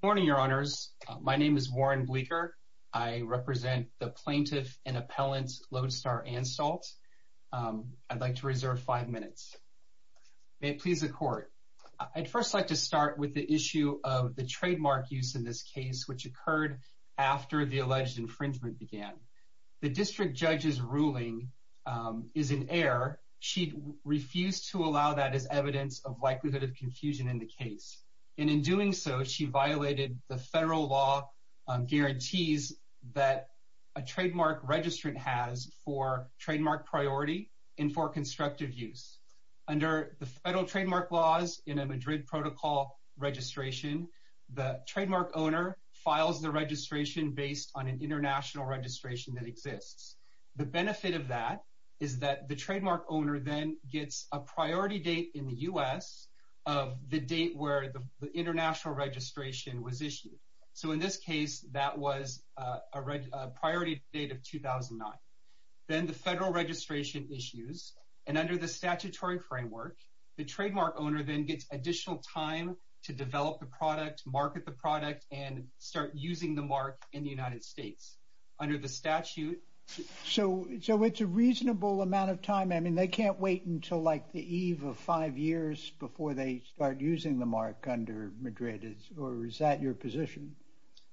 Good morning, your honors. My name is Warren Bleeker. I represent the plaintiff and appellant Lodestar Anstalt. I'd like to reserve five minutes. May it please the court. I'd first like to start with the issue of the trademark use in this case, which occurred after the alleged infringement began. The district judge's ruling is in error. She refused to allow that as in the case. And in doing so, she violated the federal law guarantees that a trademark registrant has for trademark priority and for constructive use. Under the federal trademark laws in a Madrid protocol registration, the trademark owner files the registration based on an international registration that exists. The benefit of that is that the trademark owner then gets a priority date in the U.S. of the date where the international registration was issued. So in this case, that was a priority date of 2009. Then the federal registration issues. And under the statutory framework, the trademark owner then gets additional time to develop the product, market the product and start using the mark in the United States under the statute. So so it's a reasonable amount of time. I mean, they can't wait until like the eve of five years before they start using the mark under Madrid or is that your position?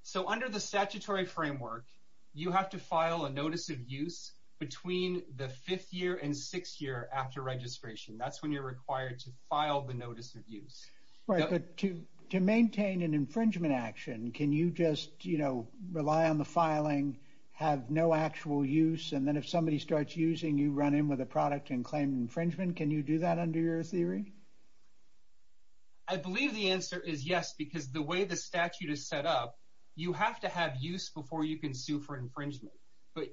So under the statutory framework, you have to file a notice of use between the fifth year and sixth year after registration. That's when you're required to file the notice of use. Right. But to to maintain an filing have no actual use. And then if somebody starts using, you run in with a product and claim infringement. Can you do that under your theory? I believe the answer is yes, because the way the statute is set up, you have to have use before you can sue for infringement. But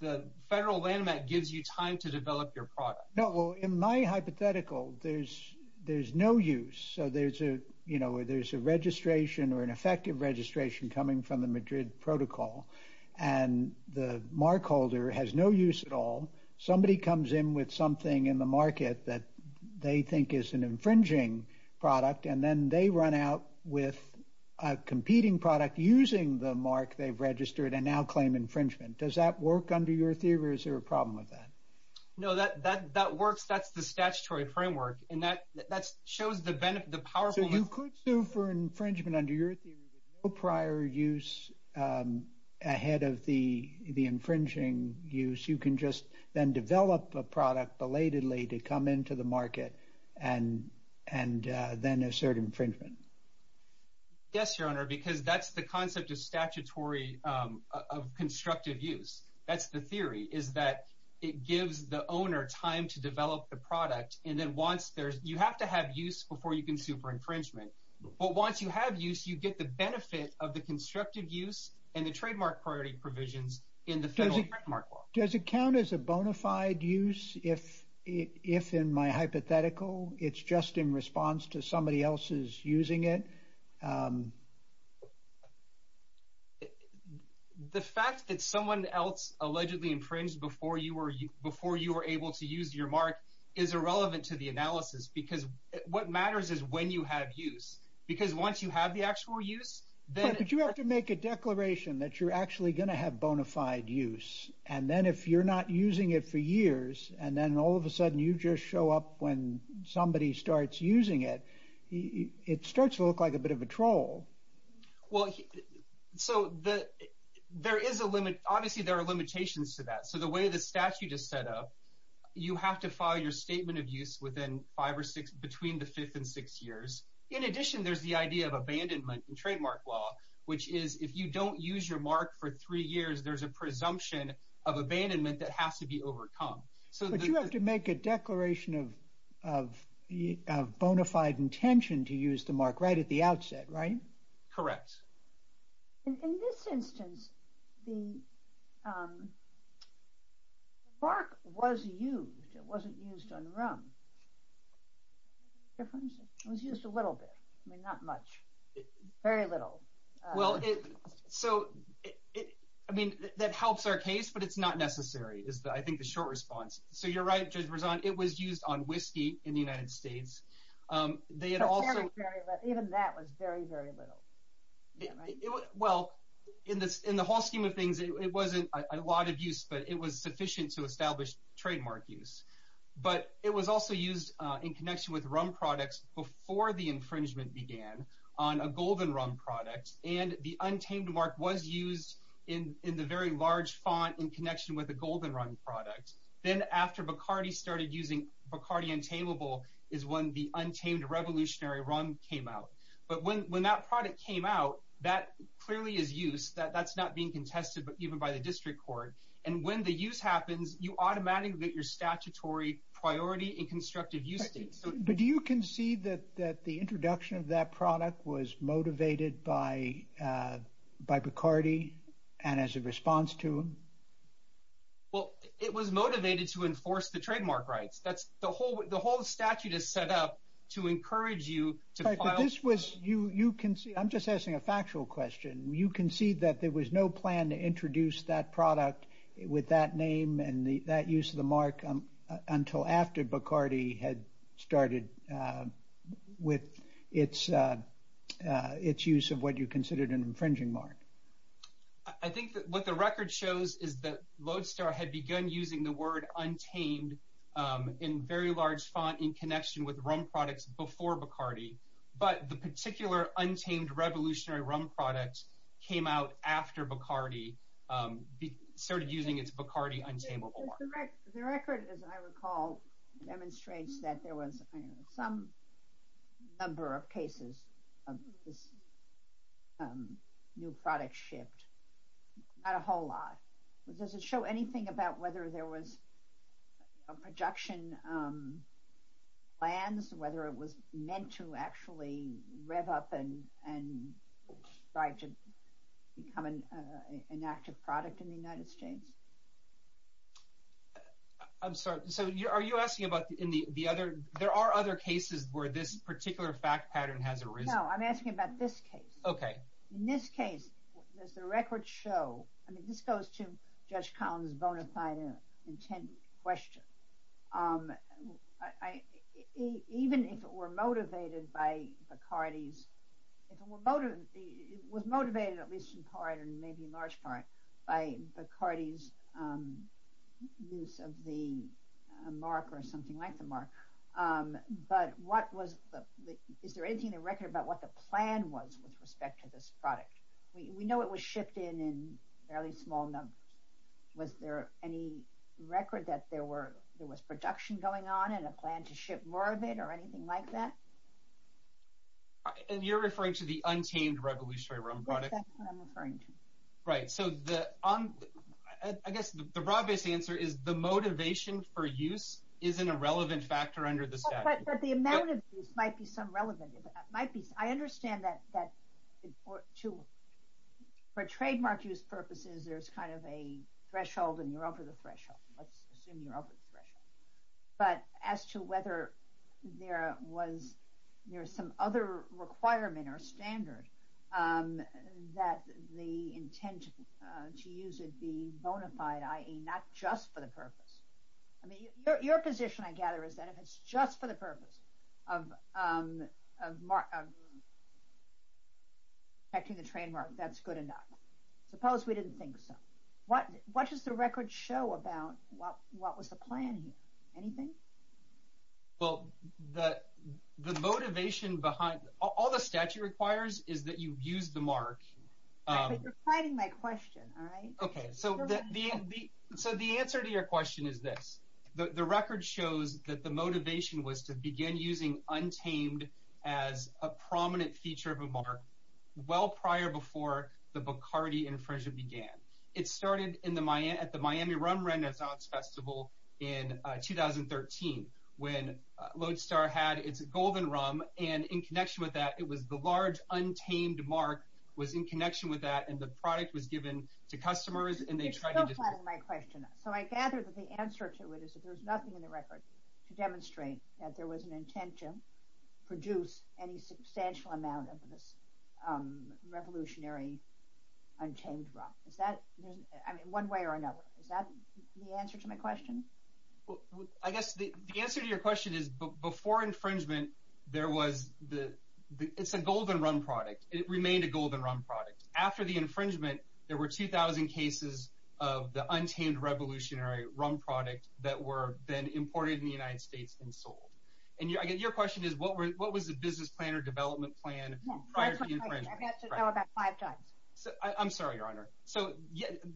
the federal landmark gives you time to develop your product. No. Well, in my hypothetical, there's there's no use. So there's a you know, there's a registration or an effective registration coming from the protocol and the mark holder has no use at all. Somebody comes in with something in the market that they think is an infringing product and then they run out with a competing product using the mark they've registered and now claim infringement. Does that work under your theory? Is there a problem with that? No, that that that works. That's the statutory framework. And that that ahead of the the infringing use, you can just then develop a product belatedly to come into the market and and then assert infringement. Yes, your honor, because that's the concept of statutory of constructive use. That's the theory is that it gives the owner time to develop the product. And then once there's you have to have use before you can sue for infringement. But once you have use, you get the benefit of the constructive use and the trademark priority provisions in the federal mark. Does it count as a bona fide use if if in my hypothetical, it's just in response to somebody else's using it? The fact that someone else allegedly infringed before you were before you were able to use your is irrelevant to the analysis, because what matters is when you have use, because once you have the actual use, then you have to make a declaration that you're actually going to have bona fide use. And then if you're not using it for years and then all of a sudden you just show up when somebody starts using it, it starts to look like a bit of a troll. Well, so that there is a limit. Obviously, there are limitations to that. So the way the statute is set up, you have to file your statement of use within five or six between the fifth and six years. In addition, there's the idea of abandonment and trademark law, which is if you don't use your mark for three years, there's a presumption of abandonment that has to be overcome. So you have to make a declaration of bona fide intention to use the mark right at the outset, correct? In this instance, the mark was used. It wasn't used on rum. It was used a little bit. I mean, not much, very little. Well, so I mean, that helps our case, but it's not necessary is that I think the short response. So you're right, Judge Berzon, it was used on whiskey in the United States. They had also... Even that was very, very little. Well, in the whole scheme of things, it wasn't a lot of use, but it was sufficient to establish trademark use. But it was also used in connection with rum products before the infringement began on a golden rum product. And the untamed mark was used in the very large font in connection with a golden rum product. Then after Bacardi started using Bacardi Untamable is when the untamed revolutionary rum came out. But when that product came out, that clearly is used. That's not being contested, but even by the district court. And when the use happens, you automatically get your statutory priority in constructive use states. But do you concede that the introduction of that product was motivated by Bacardi and as a response to him? Well, it was motivated to enforce the trademark rights. The whole statute is set up to encourage you to file- But this was... I'm just asking a factual question. You concede that there was no plan to introduce that product with that name and that use of the mark until after Bacardi had started with its use of what you considered an infringing mark? I think that what the record shows is that Lodestar had begun using the word untamed in very large font in connection with rum products before Bacardi. But the particular untamed revolutionary rum product came out after Bacardi started using its Bacardi Untamable mark. The record, as I recall, demonstrates that there was some number of cases of this new product shipped, not a whole lot. Does it show anything about whether there was a production plans, whether it was meant to actually rev up and try to become an active product in the United States? I'm sorry. So are you asking about in the other... There are other cases where this particular fact pattern has arisen? No, I'm asking about this case. In this case, does the record show... I mean, this goes to Judge Collins' bona fide intended question. Even if it was motivated at least in part and maybe in large part by Bacardi's use of the mark or something like the mark, but is there anything in the record about what the plan was with respect to this product? We know it was shipped in a fairly small number. Was there any record that there was production going on and a plan to ship more of it or anything like that? And you're referring to the untamed revolutionary rum product? Yes, that's what I'm referring to. Right. So I guess the broad-based answer is the motivation for use isn't a relevant factor under the statute. But the amount of use might be some relevant... I understand that for trademark use purposes, there's kind of a threshold and you're over the threshold. Let's assume you're over the threshold. But as to whether there was some other requirement or standard that the intent to use it be bona fide, i.e. not just for the purpose. I mean, your position, I gather, is that if it's just for the purpose of protecting the trademark, that's good enough. Suppose we didn't think so. What does the record show about what was the plan here? Anything? Well, the motivation behind... All the statute requires is that you use the mark. Right, but you're fighting my question, all right? So the answer to your question is this. The record shows that the motivation was to begin using untamed as a prominent feature of a mark well prior before the Bacardi infringement began. It started at the Miami Rum Renaissance Festival in 2013 when Lodestar had its golden rum. And in connection with that, it was the large untamed mark was in connection with that and the product was given to customers and they tried to... You're still fighting my question. So I gather that the answer to it is that there's nothing in the record to demonstrate that there was an intent to produce any substantial amount of this revolutionary untamed rum. Is that... I mean, one way or another. Is that the answer to my question? I guess the answer to your question is before infringement, there was the... It's a golden rum product. After the infringement, there were 2,000 cases of the untamed revolutionary rum product that were then imported in the United States and sold. And your question is what was the business plan or development plan prior to the infringement? I've had to know about five times. I'm sorry, Your Honor. So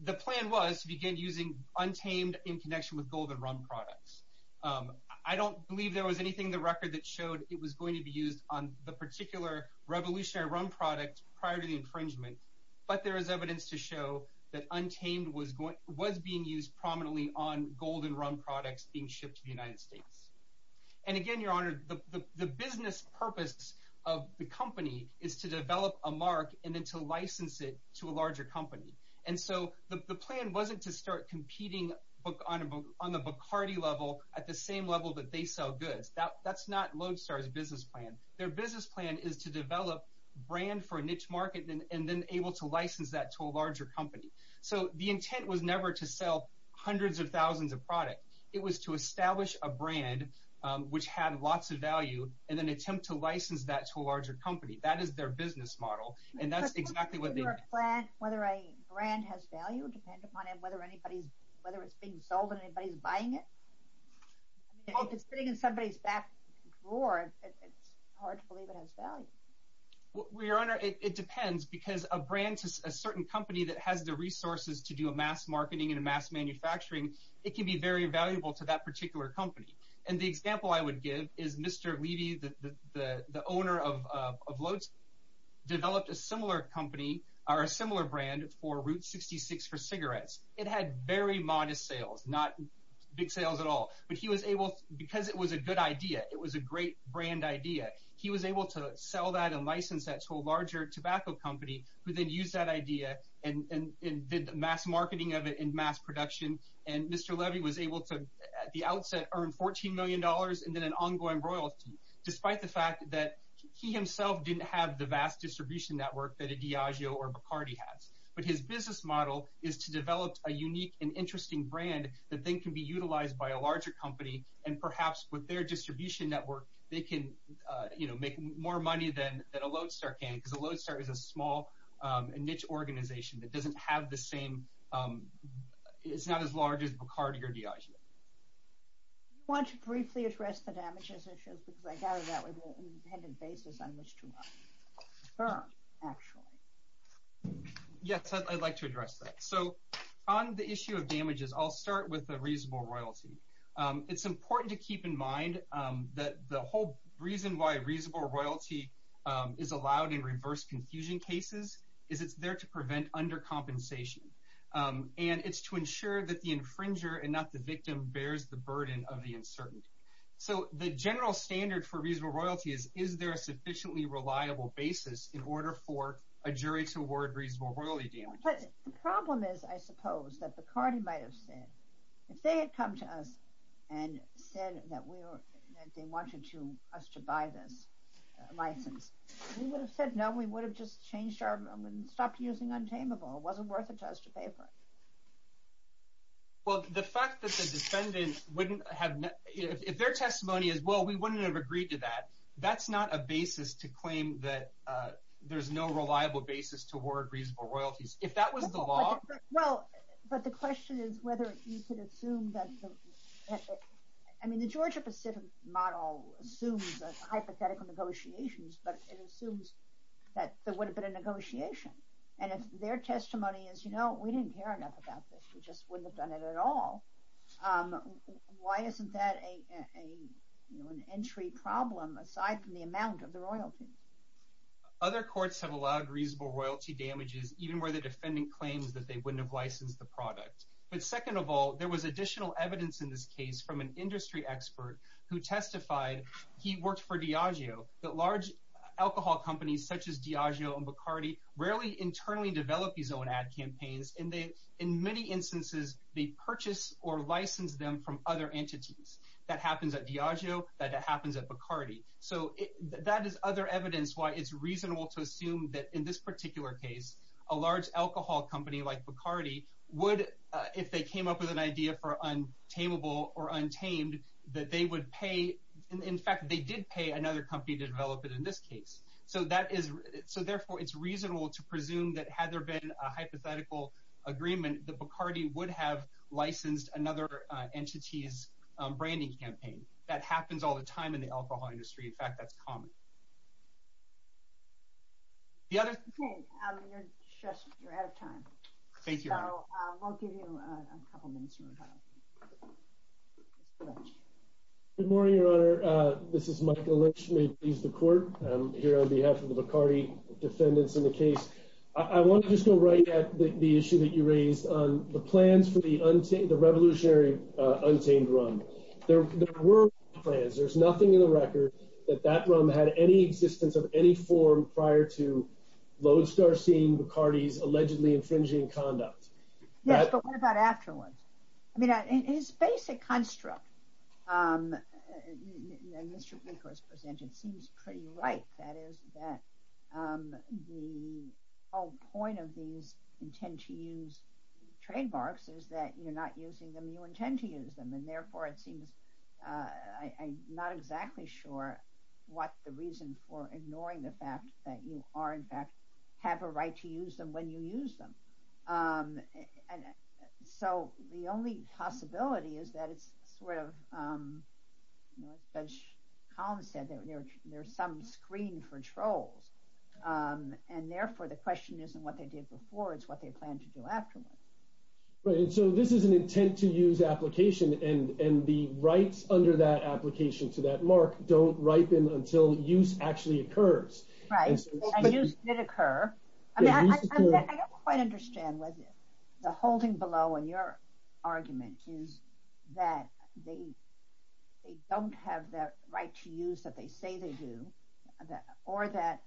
the plan was to begin using untamed in connection with golden rum products. I don't believe there was anything in the record that showed it was going to be used on the particular revolutionary rum product prior to the infringement, but there is evidence to show that untamed was being used prominently on golden rum products being shipped to the United States. And again, Your Honor, the business purpose of the company is to develop a mark and then to license it to a larger company. And so the plan wasn't to start competing on the Bacardi level at the same level that they sell goods. That's not Lodestar's business plan. Their business plan is to develop a brand for a niche market and then able to license that to a larger company. So the intent was never to sell hundreds of thousands of products. It was to establish a brand which had lots of value and then attempt to license that to a larger company. That is their business model, and that's exactly what they did. Whether a brand has value depends upon whether it's being sold and anybody's buying it. If it's sitting in somebody's back drawer, it's hard to believe it has value. Well, Your Honor, it depends because a brand, a certain company that has the resources to do a mass marketing and a mass manufacturing, it can be very valuable to that particular company. And the example I would give is Mr. Levy, the owner of Route 66 for cigarettes. It had very modest sales, not big sales at all, but he was able, because it was a good idea, it was a great brand idea, he was able to sell that and license that to a larger tobacco company who then used that idea and did the mass marketing of it and mass production. And Mr. Levy was able to, at the outset, earn $14 million and then an ongoing royalty, despite the fact that he himself didn't have the vast distribution network that a Diageo or a Lodestar can, because a Lodestar is a small niche organization that doesn't have the same, it's not as large as Bacardi or Diageo. I want to briefly address the damages issues because I So on the issue of damages, I'll start with the reasonable royalty. It's important to keep in mind that the whole reason why reasonable royalty is allowed in reverse confusion cases is it's there to prevent undercompensation. And it's to ensure that the infringer and not the victim bears the burden of the uncertainty. So the general standard for reasonable royalty is, is there sufficiently reliable basis in order for a jury to award reasonable royalty damages. But the problem is, I suppose, that Bacardi might have said, if they had come to us and said that we were, that they wanted to us to buy this license, we would have said no, we would have just changed our, stopped using Untameable, it wasn't worth it to us to pay for it. Well, the fact that the defendant wouldn't have, if their testimony is, well, we wouldn't have agreed to that, that's not a basis to claim that there's no reliable basis to award reasonable royalties. If that was the law. Well, but the question is whether you could assume that, I mean, the Georgia Pacific model assumes hypothetical negotiations, but it assumes that there would have been a negotiation. And if their testimony is, you know, we didn't care enough about this, we just wouldn't have done it at all. Why isn't that an entry problem, aside from the amount of the royalty? Other courts have allowed reasonable royalty damages, even where the defendant claims that they wouldn't have licensed the product. But second of all, there was additional evidence in this case from an industry expert who testified, he worked for Diageo, that large alcohol companies such as Diageo and Bacardi rarely internally develop these own ad campaigns. And they, in many instances, they purchase or license them from other entities. That happens at Diageo, that happens at Bacardi. So that is other evidence why it's reasonable to assume that in this particular case, a large alcohol company like Bacardi would, if they came up with an idea for untamable or untamed, that they would pay, in fact, they did pay another company to develop it in this case. So that is, so therefore it's reasonable to presume that had there been a hypothetical agreement, that Bacardi would have licensed another entity's branding campaign. That happens all the time in the alcohol industry, in fact, that's common. The other- Okay, you're just, you're out of time. Thank you, Your Honor. So, we'll give you a couple minutes to retire. Good morning, Your Honor. This is Michael Lynch, may it please the court. I'm here on behalf of Bacardi defendants in the case. I want to just go right at the issue that you raised on the plans for the untamed, the revolutionary untamed rum. There were plans, there's nothing in the record that that rum had any existence of any form prior to Lodestar seeing Bacardi's allegedly infringing conduct. Yes, but what about afterwards? I mean, his basic construct, as Mr. Bleeker has presented, seems pretty ripe. That is that the whole point of these intent to use trademarks is that you're not using them, you intend to use them, and therefore it seems I'm not exactly sure what the reason for ignoring the fact that you are, in fact, have a right to use them when you use them. And so, the only possibility is that it's sort of, as Colin said, that there's some screen for trolls, and therefore the question isn't what they did before, it's what they plan to do afterwards. Right, and so this is an intent to use application and the rights under that application to that mark don't ripen until use actually occurs. Right, and use did occur. I don't quite understand whether the holding below in your argument is that they don't have that right to use that they say they do, or that,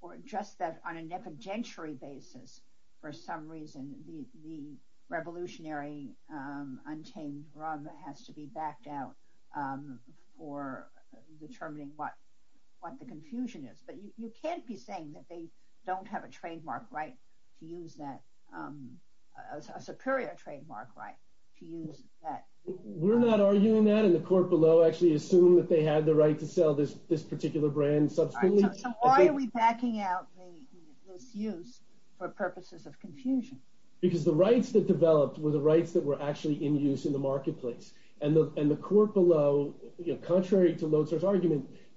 or just that on an evidentiary basis, for some reason, the revolutionary untamed rum has to be backed out for determining what the confusion is. But you can't be saying that they don't have a trademark right to use that, a superior trademark right to use that. We're not arguing that, and the court below actually assumed that they had the right to sell this particular brand subsequently. So why are we backing out this use for purposes of confusion? Because the rights that developed were the rights that were actually in use in the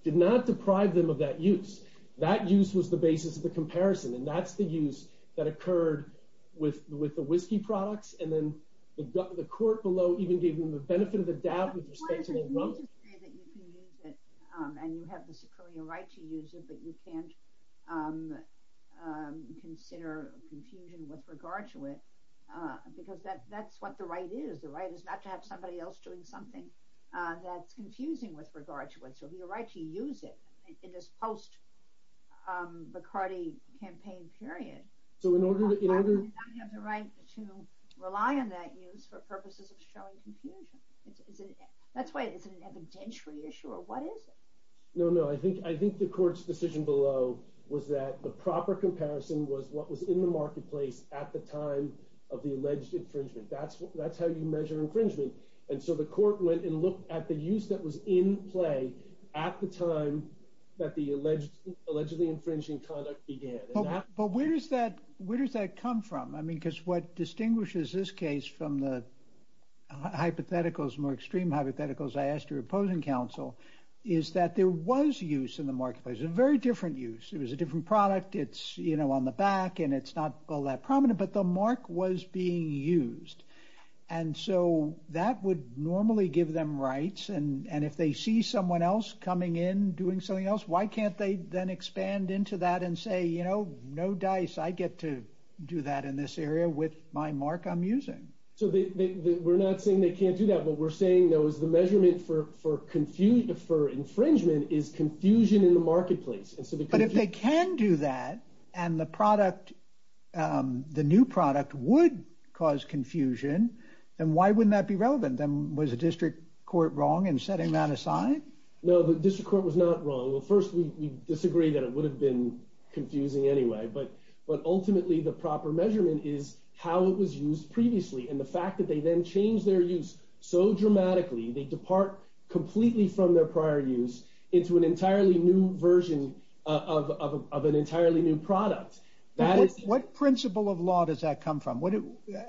did not deprive them of that use. That use was the basis of the comparison, and that's the use that occurred with the whiskey products. And then the court below even gave them the benefit of the doubt with respect to the rum. Why is it you need to say that you can use it and you have the superior right to use it, but you can't consider confusion with regard to it? Because that's what the right is. The right is not to have somebody else doing something that's confusing with regard to it. So your right to use it in this post-McCarty campaign period, you don't have the right to rely on that use for purposes of showing confusion. That's why it's an evidentiary issue, or what is it? No, no. I think the court's decision below was that the proper comparison was what was in the marketplace at the time of the alleged infringement. That's how you measure infringement. And so the court went and looked at the use that was in play at the time that the allegedly infringing conduct began. But where does that come from? I mean, because what distinguishes this case from the hypotheticals, more extreme hypotheticals I asked your opposing counsel, is that there was use in the marketplace, a very different use. It was a different product. It's on the back, and it's not all that prominent, but the mark was being used. And so that would normally give them rights. And if they see someone else coming in doing something else, why can't they then expand into that and say, you know, no dice. I get to do that in this area with my mark I'm using. So we're not saying they can't do that. What we're saying, though, is the measurement for infringement is confusion in the marketplace. But if they can do that, and the product, the new product would cause confusion, then why wouldn't that be relevant? Then was the district court wrong in setting that aside? No, the district court was not wrong. Well, first, we disagree that it would have been confusing anyway. But ultimately, the proper measurement is how it was used previously. And the fact that they then changed their use so dramatically, they depart completely from their prior use into an entirely new version of an entirely new product. What principle of law does that come from?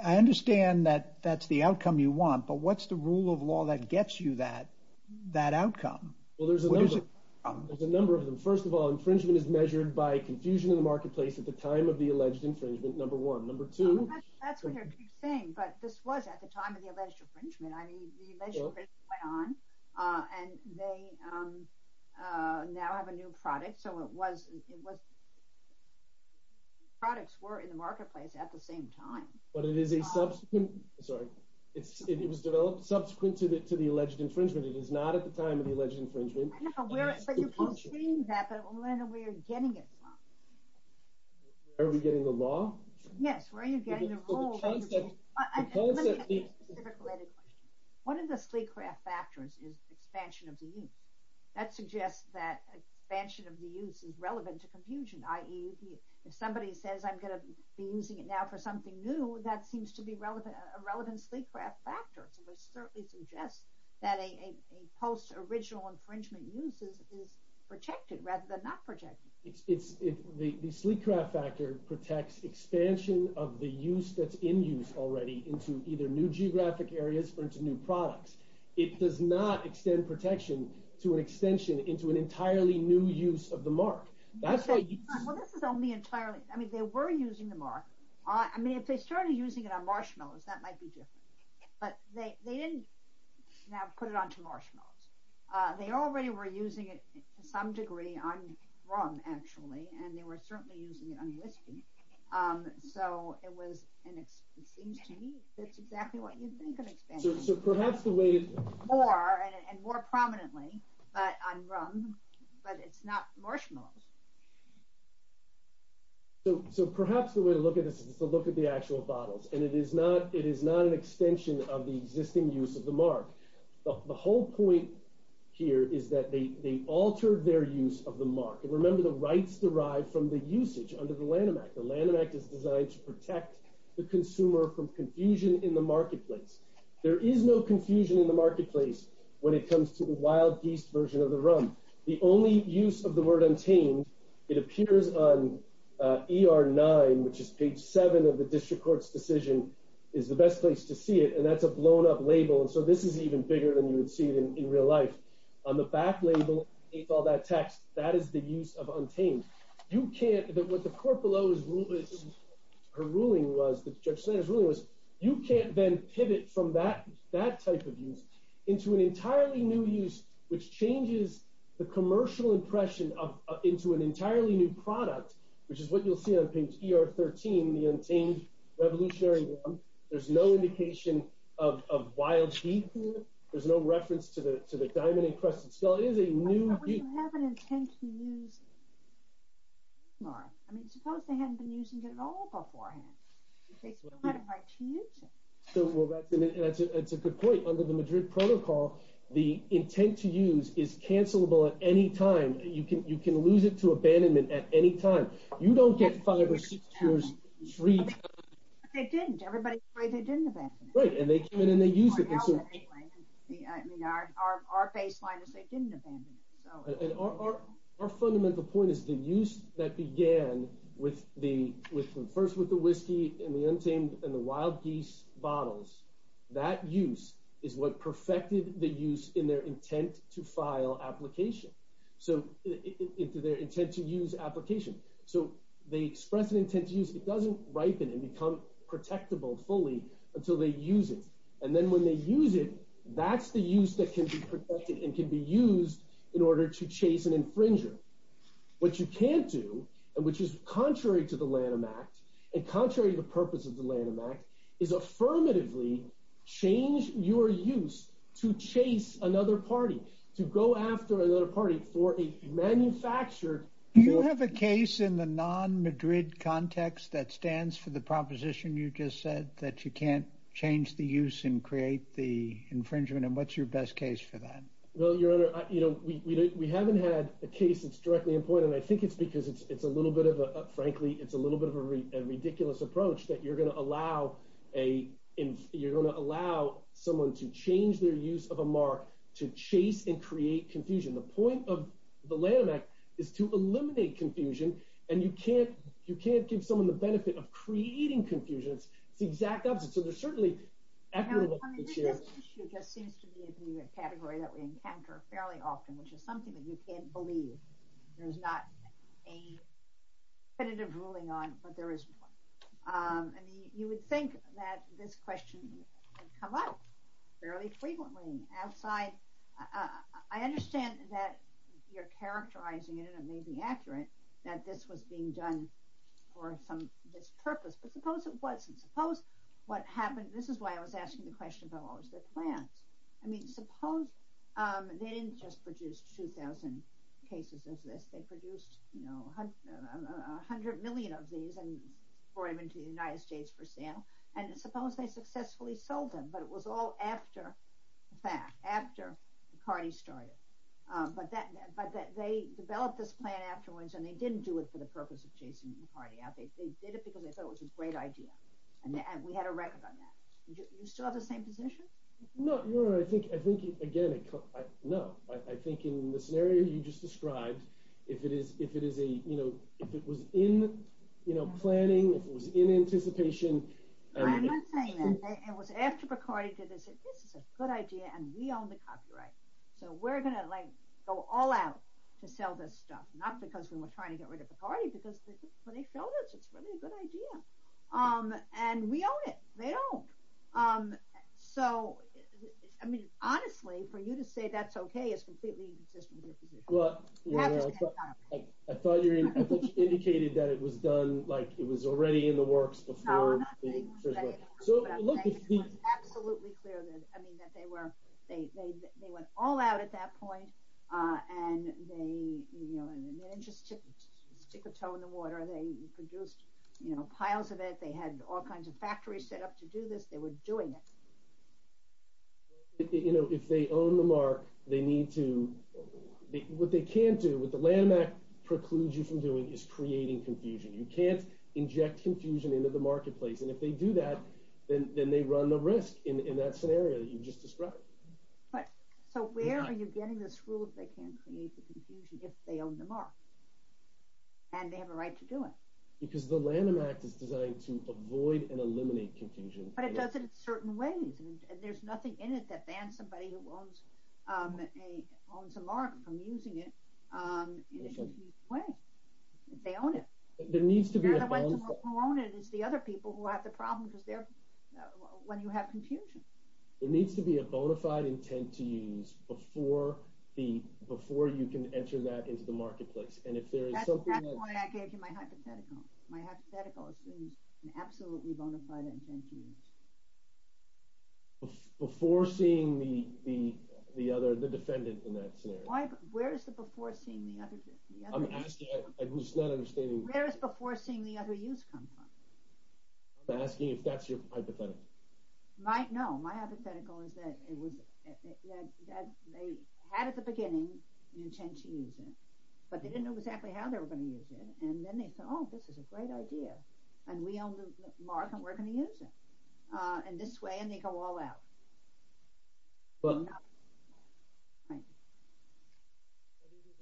I understand that that's the outcome you want. But what's the rule of law that gets you that outcome? Well, there's a number of them. First of all, infringement is measured by confusion in the marketplace at the time of the alleged infringement, number one. Number two. That's what you're saying. But this was at the time of the alleged infringement. I mean, the measure went on, and they now have a new product. So it was products were in the marketplace at the same time. But it is a subsequent, sorry, it was developed subsequent to the alleged infringement. It is not at the time of the alleged infringement. I don't know where, but you can see that, but I don't know where you're getting it from. Are we getting the law? Yes, where are you getting the rule? Let me ask you a specific related question. One of the Sleecraft factors is expansion of the use. That suggests that expansion of the use is relevant to confusion, i.e. if somebody says, I'm going to be using it now for something new, that seems to be a relevant Sleecraft factor. So it certainly suggests that a post-original infringement use is protected rather than not protected. The Sleecraft factor protects expansion of the use that's in use already into either new geographic areas or into new products. It does not extend protection to an extension into an entirely new use of the mark. Well, this is only entirely, I mean, they were using the mark. I mean, if they started using it on marshmallows, that might be different. But they didn't now put it onto marshmallows. They already were using it to some degree on rum, actually, and they were certainly using it on whiskey. So it was, and it seems to me, that's exactly what you think of expansion. So perhaps the way... More, and more prominently, but on rum, but it's not marshmallows. So perhaps the way to look at this is to look at the actual bottles. And it is not an extension of the existing use of the mark. The whole point here is that they altered their use of the mark. And remember, the rights derive from the usage under the Lanham Act. The Lanham Act is designed to protect the consumer from confusion in the marketplace. There is no confusion in the marketplace when it comes to the wild geese version of the rum. The only use of the word untamed, it appears on ER 9, which is page 7 of the district court's decision, is the best place to see it. And that's a blown up label. And so this is even bigger than you would see it in real life. On the back label, it's all that text. That is the use of untamed. You can't, what the court below is ruling, her ruling was, the judge's ruling was, you can't then pivot from that type of use into an entirely new use, which changes the commercial impression into an entirely new product, which is what you'll see on page ER 13, the untamed revolutionary rum. There's no indication of wild geese. There's no reference to the diamond encrusted skull. It is a new geese. But would you have an intent to use it? I mean, suppose they hadn't been using it at all beforehand. They still had a right to use it. So, well, that's a good point. Under the Madrid Protocol, the intent to use is cancelable at any time. You can lose it to abandonment at any time. You don't get five or six years free. They didn't. Everybody's afraid they didn't abandon it. Right. And they came in and they used it. I mean, our baseline is they didn't abandon it. And our fundamental point is the use that began with the, first with the whiskey and the untamed and the wild geese bottles, that use is what perfected the use in their intent to file application. So into their intent to use application. So they express an intent to use. It doesn't ripen and become protectable fully until they use it. And then when they use it, that's the use that can be protected and can be used in order to chase an infringer. What you can't do, and which is contrary to the Lanham Act and contrary to the purpose of the Lanham Act, is affirmatively change your use to chase another party, to go after another party for a manufactured. Do you have a case in the non Madrid context that stands for the proposition you just said that you can't change the use and create the infringement? And what's your best case for that? Well, your honor, you know, we haven't had a case that's directly important. I think it's because it's a little bit of a, frankly, it's a little bit of a ridiculous approach that you're going to allow a, you're going to allow someone to change their use of a mark to chase and create confusion. The point of the Lanham Act is to eliminate confusion. And you can't, you can't give someone the benefit of creating confusion. It's the exact opposite. So there's certainly... I mean, this issue just seems to be a category that we encounter fairly often, which is something that you can't believe there's not a definitive ruling on, but there is one. I mean, you would think that this question would come up fairly frequently outside. I understand that you're characterizing it, and it may be accurate that this was being done for some, this purpose, but suppose it wasn't. Suppose what happened, this is why I was asking the question about what was the plan. I mean, suppose they didn't just produce 2,000 cases of this. They produced, you know, a hundred million of these and brought them into the United States for sale. And suppose they successfully sold them, but it was all after the fact, after McCarty started. But they developed this plan afterwards, and they didn't do it for the purpose of chasing McCarty out. They did it because they thought it was a great idea. And we had a record on that. You still have the same position? No, I think, again, no. I think in the scenario you just described, if it was in, you know, planning, if it was in anticipation. I'm not saying that. It was after McCarty did it, they said, this is a good idea, and we own the copyright. So we're going to, like, go all out to sell this stuff. Not because we were trying to get rid of McCarty, because when they sold it, it's really a good idea. And we own it. They don't. So, I mean, honestly, for you to say that's okay is completely inconsistent with your position. Well, I thought you indicated that it was done, like, it was already in the works before. No, I'm not saying it was done, but I'm saying it was absolutely clear that, I mean, that they were, they went all out at that point. And they, you know, they didn't just stick a toe in the water. They produced, you know, piles of it. They had all kinds of factories set up to do this. They were doing it. You know, if they own the mark, they need to, what they can't do, what the Lanham Act precludes you from doing is creating confusion. You can't inject confusion into the marketplace. And if they do that, then they run the risk in that scenario that you just described. But, so where are you getting this rule that they can't create the confusion if they own the mark? And they have a right to do it. Because the Lanham Act is designed to avoid and eliminate confusion. But it does it in certain ways, and there's nothing in it that bans somebody who owns a mark from using it in a confused way. They own it. There needs to be a bond. They're the ones who own it. It's the other people who have the problem because they're, when you have confusion. There needs to be a bona fide intent to use before the, before you can enter that into the marketplace. And if there is something that. That's exactly why I gave you my hypothetical. My hypothetical assumes an absolutely bona fide intent to use. Before seeing the other, the defendant in that scenario. Why, where is the before seeing the other? I'm asking, I'm just not understanding. Where is before seeing the other use come from? I'm asking if that's your hypothetical. No, my hypothetical is that it was, that they had at the beginning an intent to use it, but they didn't know exactly how they were going to use it. And then they thought, oh, this is a great idea. And we own the mark and we're going to use it. And this way, and they go all out. But an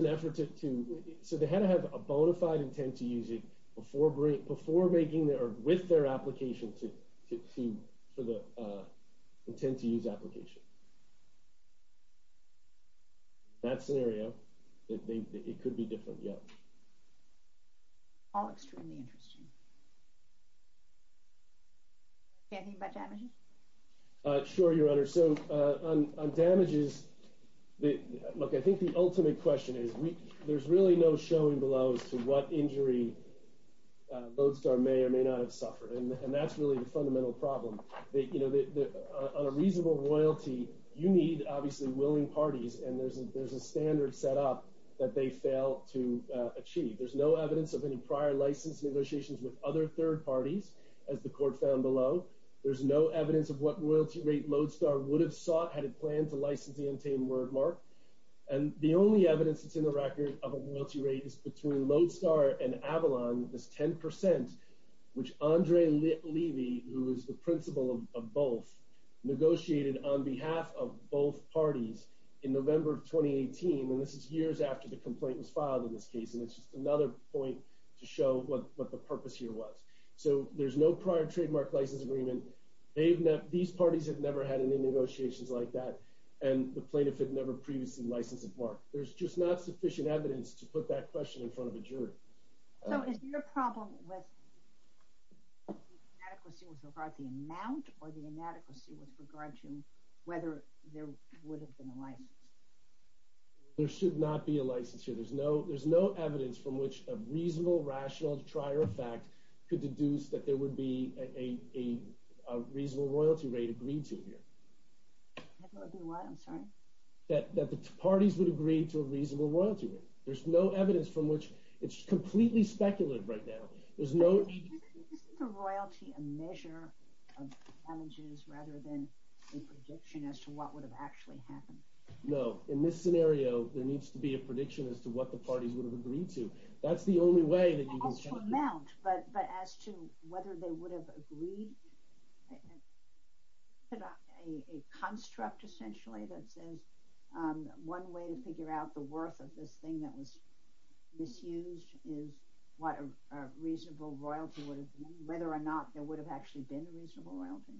effort to, to, so they had to have a bona fide intent to use it before, before making the, or with their application to, to, to, for the intent to use application. That scenario that they, it could be different. Yeah. All extremely interesting. Anything about damage? Uh, sure, Your Honor. So, uh, on, on damages, the, look, I think the ultimate question is we, there's really no showing below as to what injury, uh, Lodestar may or may not have suffered. And, and that's really the fundamental problem that, you know, the, the, uh, on a reasonable royalty, you need obviously willing parties and there's a, there's a standard set up that they fail to achieve. There's no evidence of any prior license negotiations with other third parties as the court found below. There's no evidence of what royalty rate Lodestar would have sought had it planned to license the untamed wordmark. And the only evidence that's in the record of a royalty rate is between Lodestar and Avalon, this 10%, which Andre Levy, who is the principal of both negotiated on behalf of both parties in November of 2018. And this is years after the complaint was filed in this case. And it's just another point to show what, what the purpose here was. So there's no prior trademark license agreement. They've never, these parties have never had any negotiations like that. And the plaintiff had never previously licensed at work. There's just not sufficient evidence to put that question in front of a jury. So is your problem with the inadequacy with regard to the amount or the inadequacy with regard to whether there would have been a license? There should not be a license here. There's no, there's no evidence from which a reasonable rational to try or a fact could deduce that there would be a, a, a reasonable royalty rate agreed to here, that the parties would agree to a reasonable royalty rate. There's no evidence from which it's completely speculated right now. There's no royalty, a measure of damages rather than a prediction as to what would have actually happened. No, in this scenario, there needs to be a prediction as to what the parties would have agreed to. That's the only way that you can- As to amount, but, but as to whether they would have agreed to a construct essentially that says one way to figure out the worth of this thing that was misused is what a reasonable royalty would have been, whether or not there would have actually been a reasonable royalty.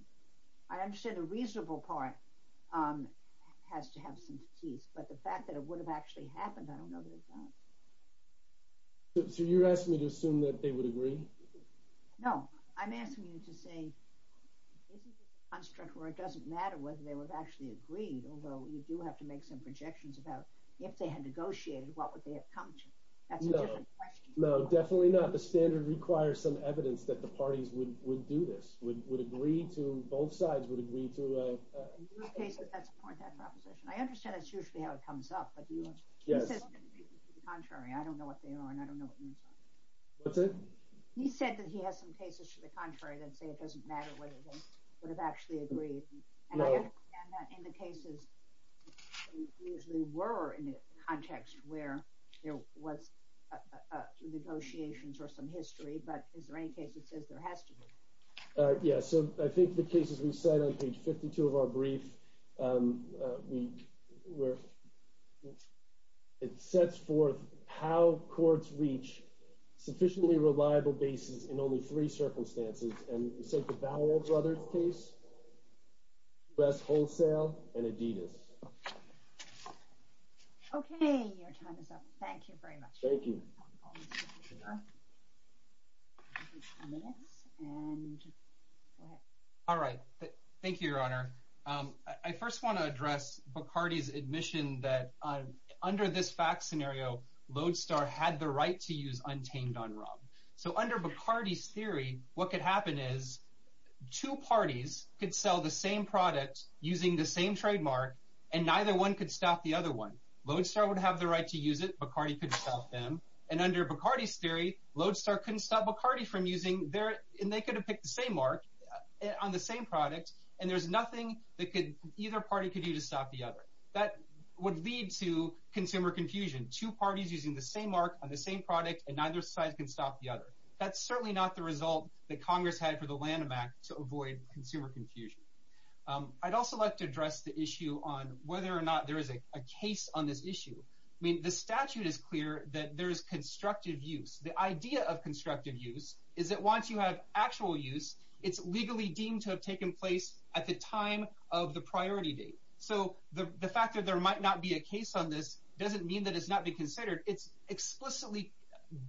I understand the reasonable part has to have some keys, but the fact that it would have actually happened, I don't know that it does. So you're asking me to assume that they would agree? No, I'm asking you to say, this is a construct where it doesn't matter whether they would actually agree, although you do have to make some projections about if they had negotiated, what would they have come to? That's a different question. No, definitely not. The standard requires some evidence that the parties would, would do this, would, would agree to, both sides would agree to a- In this case, that's a point of proposition. I understand that's usually how it comes up, but do you want to- Yes. He says that he has some cases to the contrary. I don't know what they are, and I don't know what you mean by that. What's that? He said that he has some cases to the contrary that say it doesn't matter whether they would have actually agreed, and I understand that in the cases, usually were in the context where there was negotiations or some history, but is there any case that says there has to be? Yeah, so I think the cases we cite on page 52 of our brief, we, we're, it sets forth how courts reach sufficiently reliable bases in only three circumstances, and we cite the Ballard Brothers case, U.S. Wholesale, and Adidas. Okay, your time is up. Thank you very much. Thank you. All right, thank you, Your Honor. I first want to address Bacardi's admission that under this fact scenario, Lodestar had the right to use untamed on rum. So under Bacardi's theory, what could happen is two parties could sell the same product using the same trademark, and neither one could stop the other one. Lodestar would have the right to use it. Bacardi couldn't stop them. And under Bacardi's theory, Lodestar couldn't stop Bacardi from using their, and they could have picked the same mark on the same product, and there's nothing that could, either party could do to stop the other. That would lead to consumer confusion. Two parties using the same mark on the same product, and neither side can stop the other. That's certainly not the result that Congress had for the Lanham Act to avoid consumer confusion. I'd also like to address the issue on whether or not there is a case on this issue. The statute is clear that there is constructive use. The idea of constructive use is that once you have actual use, it's legally deemed to have taken place at the time of the priority date. So the fact that there might not be a case on this doesn't mean that it's not being considered. It's explicitly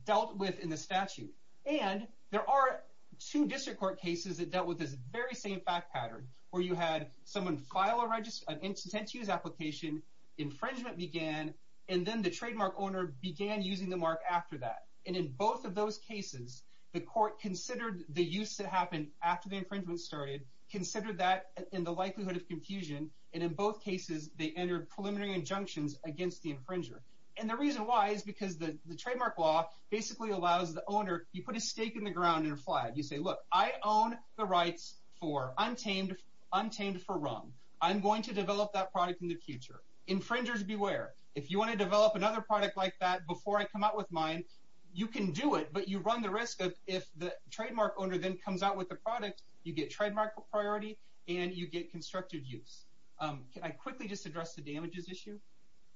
dealt with in the statute. And there are two district court cases that dealt with this very same fact pattern, where you had someone file an intent to use application, infringement began, and then the trademark owner began using the mark after that. And in both of those cases, the court considered the use that happened after the infringement started, considered that in the likelihood of confusion, and in both cases, they entered preliminary injunctions against the infringer. And the reason why is because the trademark law basically allows the owner, you put a stake in the ground and a flag. You say, look, I own the rights for untamed for wrong. I'm going to develop that product in the future. Infringers beware. If you want to develop another product like that before I come out with mine, you can do it, but you run the risk of if the trademark owner then comes out with the product, you get trademark priority and you get constructive use. Can I quickly just address the damages issue?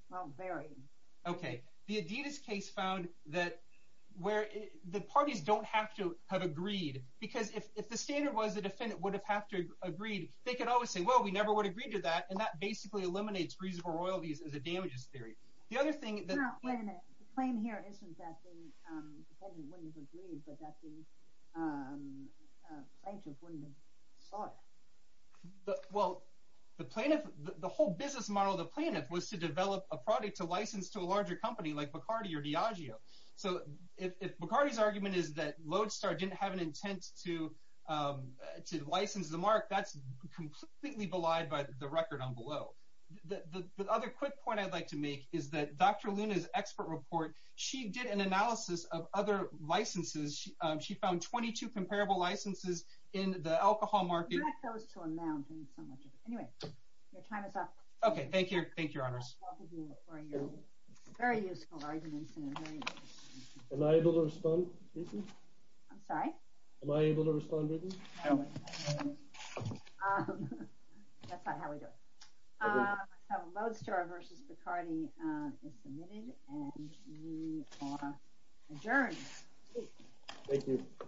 Well, very. OK. The Adidas case found that where the parties don't have to have agreed, because if the standard was the defendant would have had to agree, they could always say, well, we never would agree to that, and that basically eliminates reasonable royalties as a damages theory. The other thing that- No, wait a minute. The claim here isn't that the defendant wouldn't have agreed, but that the plaintiff wouldn't have sought it. Well, the plaintiff, the whole business model of the plaintiff was to develop a product to license to a larger company like Bacardi or Diageo. So if Bacardi's argument is that Lodestar didn't have an intent to license the mark, that's completely belied by the record on below. The other quick point I'd like to make is that Dr. Luna's expert report, she did an analysis of other licenses. She found 22 comparable licenses in the alcohol market. That goes to a mountain. So much of it. Anyway, your time is up. Okay. Thank you. Thank you, Your Honors. Welcome here for your very useful arguments and a very- Am I able to respond? I'm sorry? Am I able to respond? That's not how we do it. So Lodestar versus Bacardi is submitted and we are adjourned. Thank you.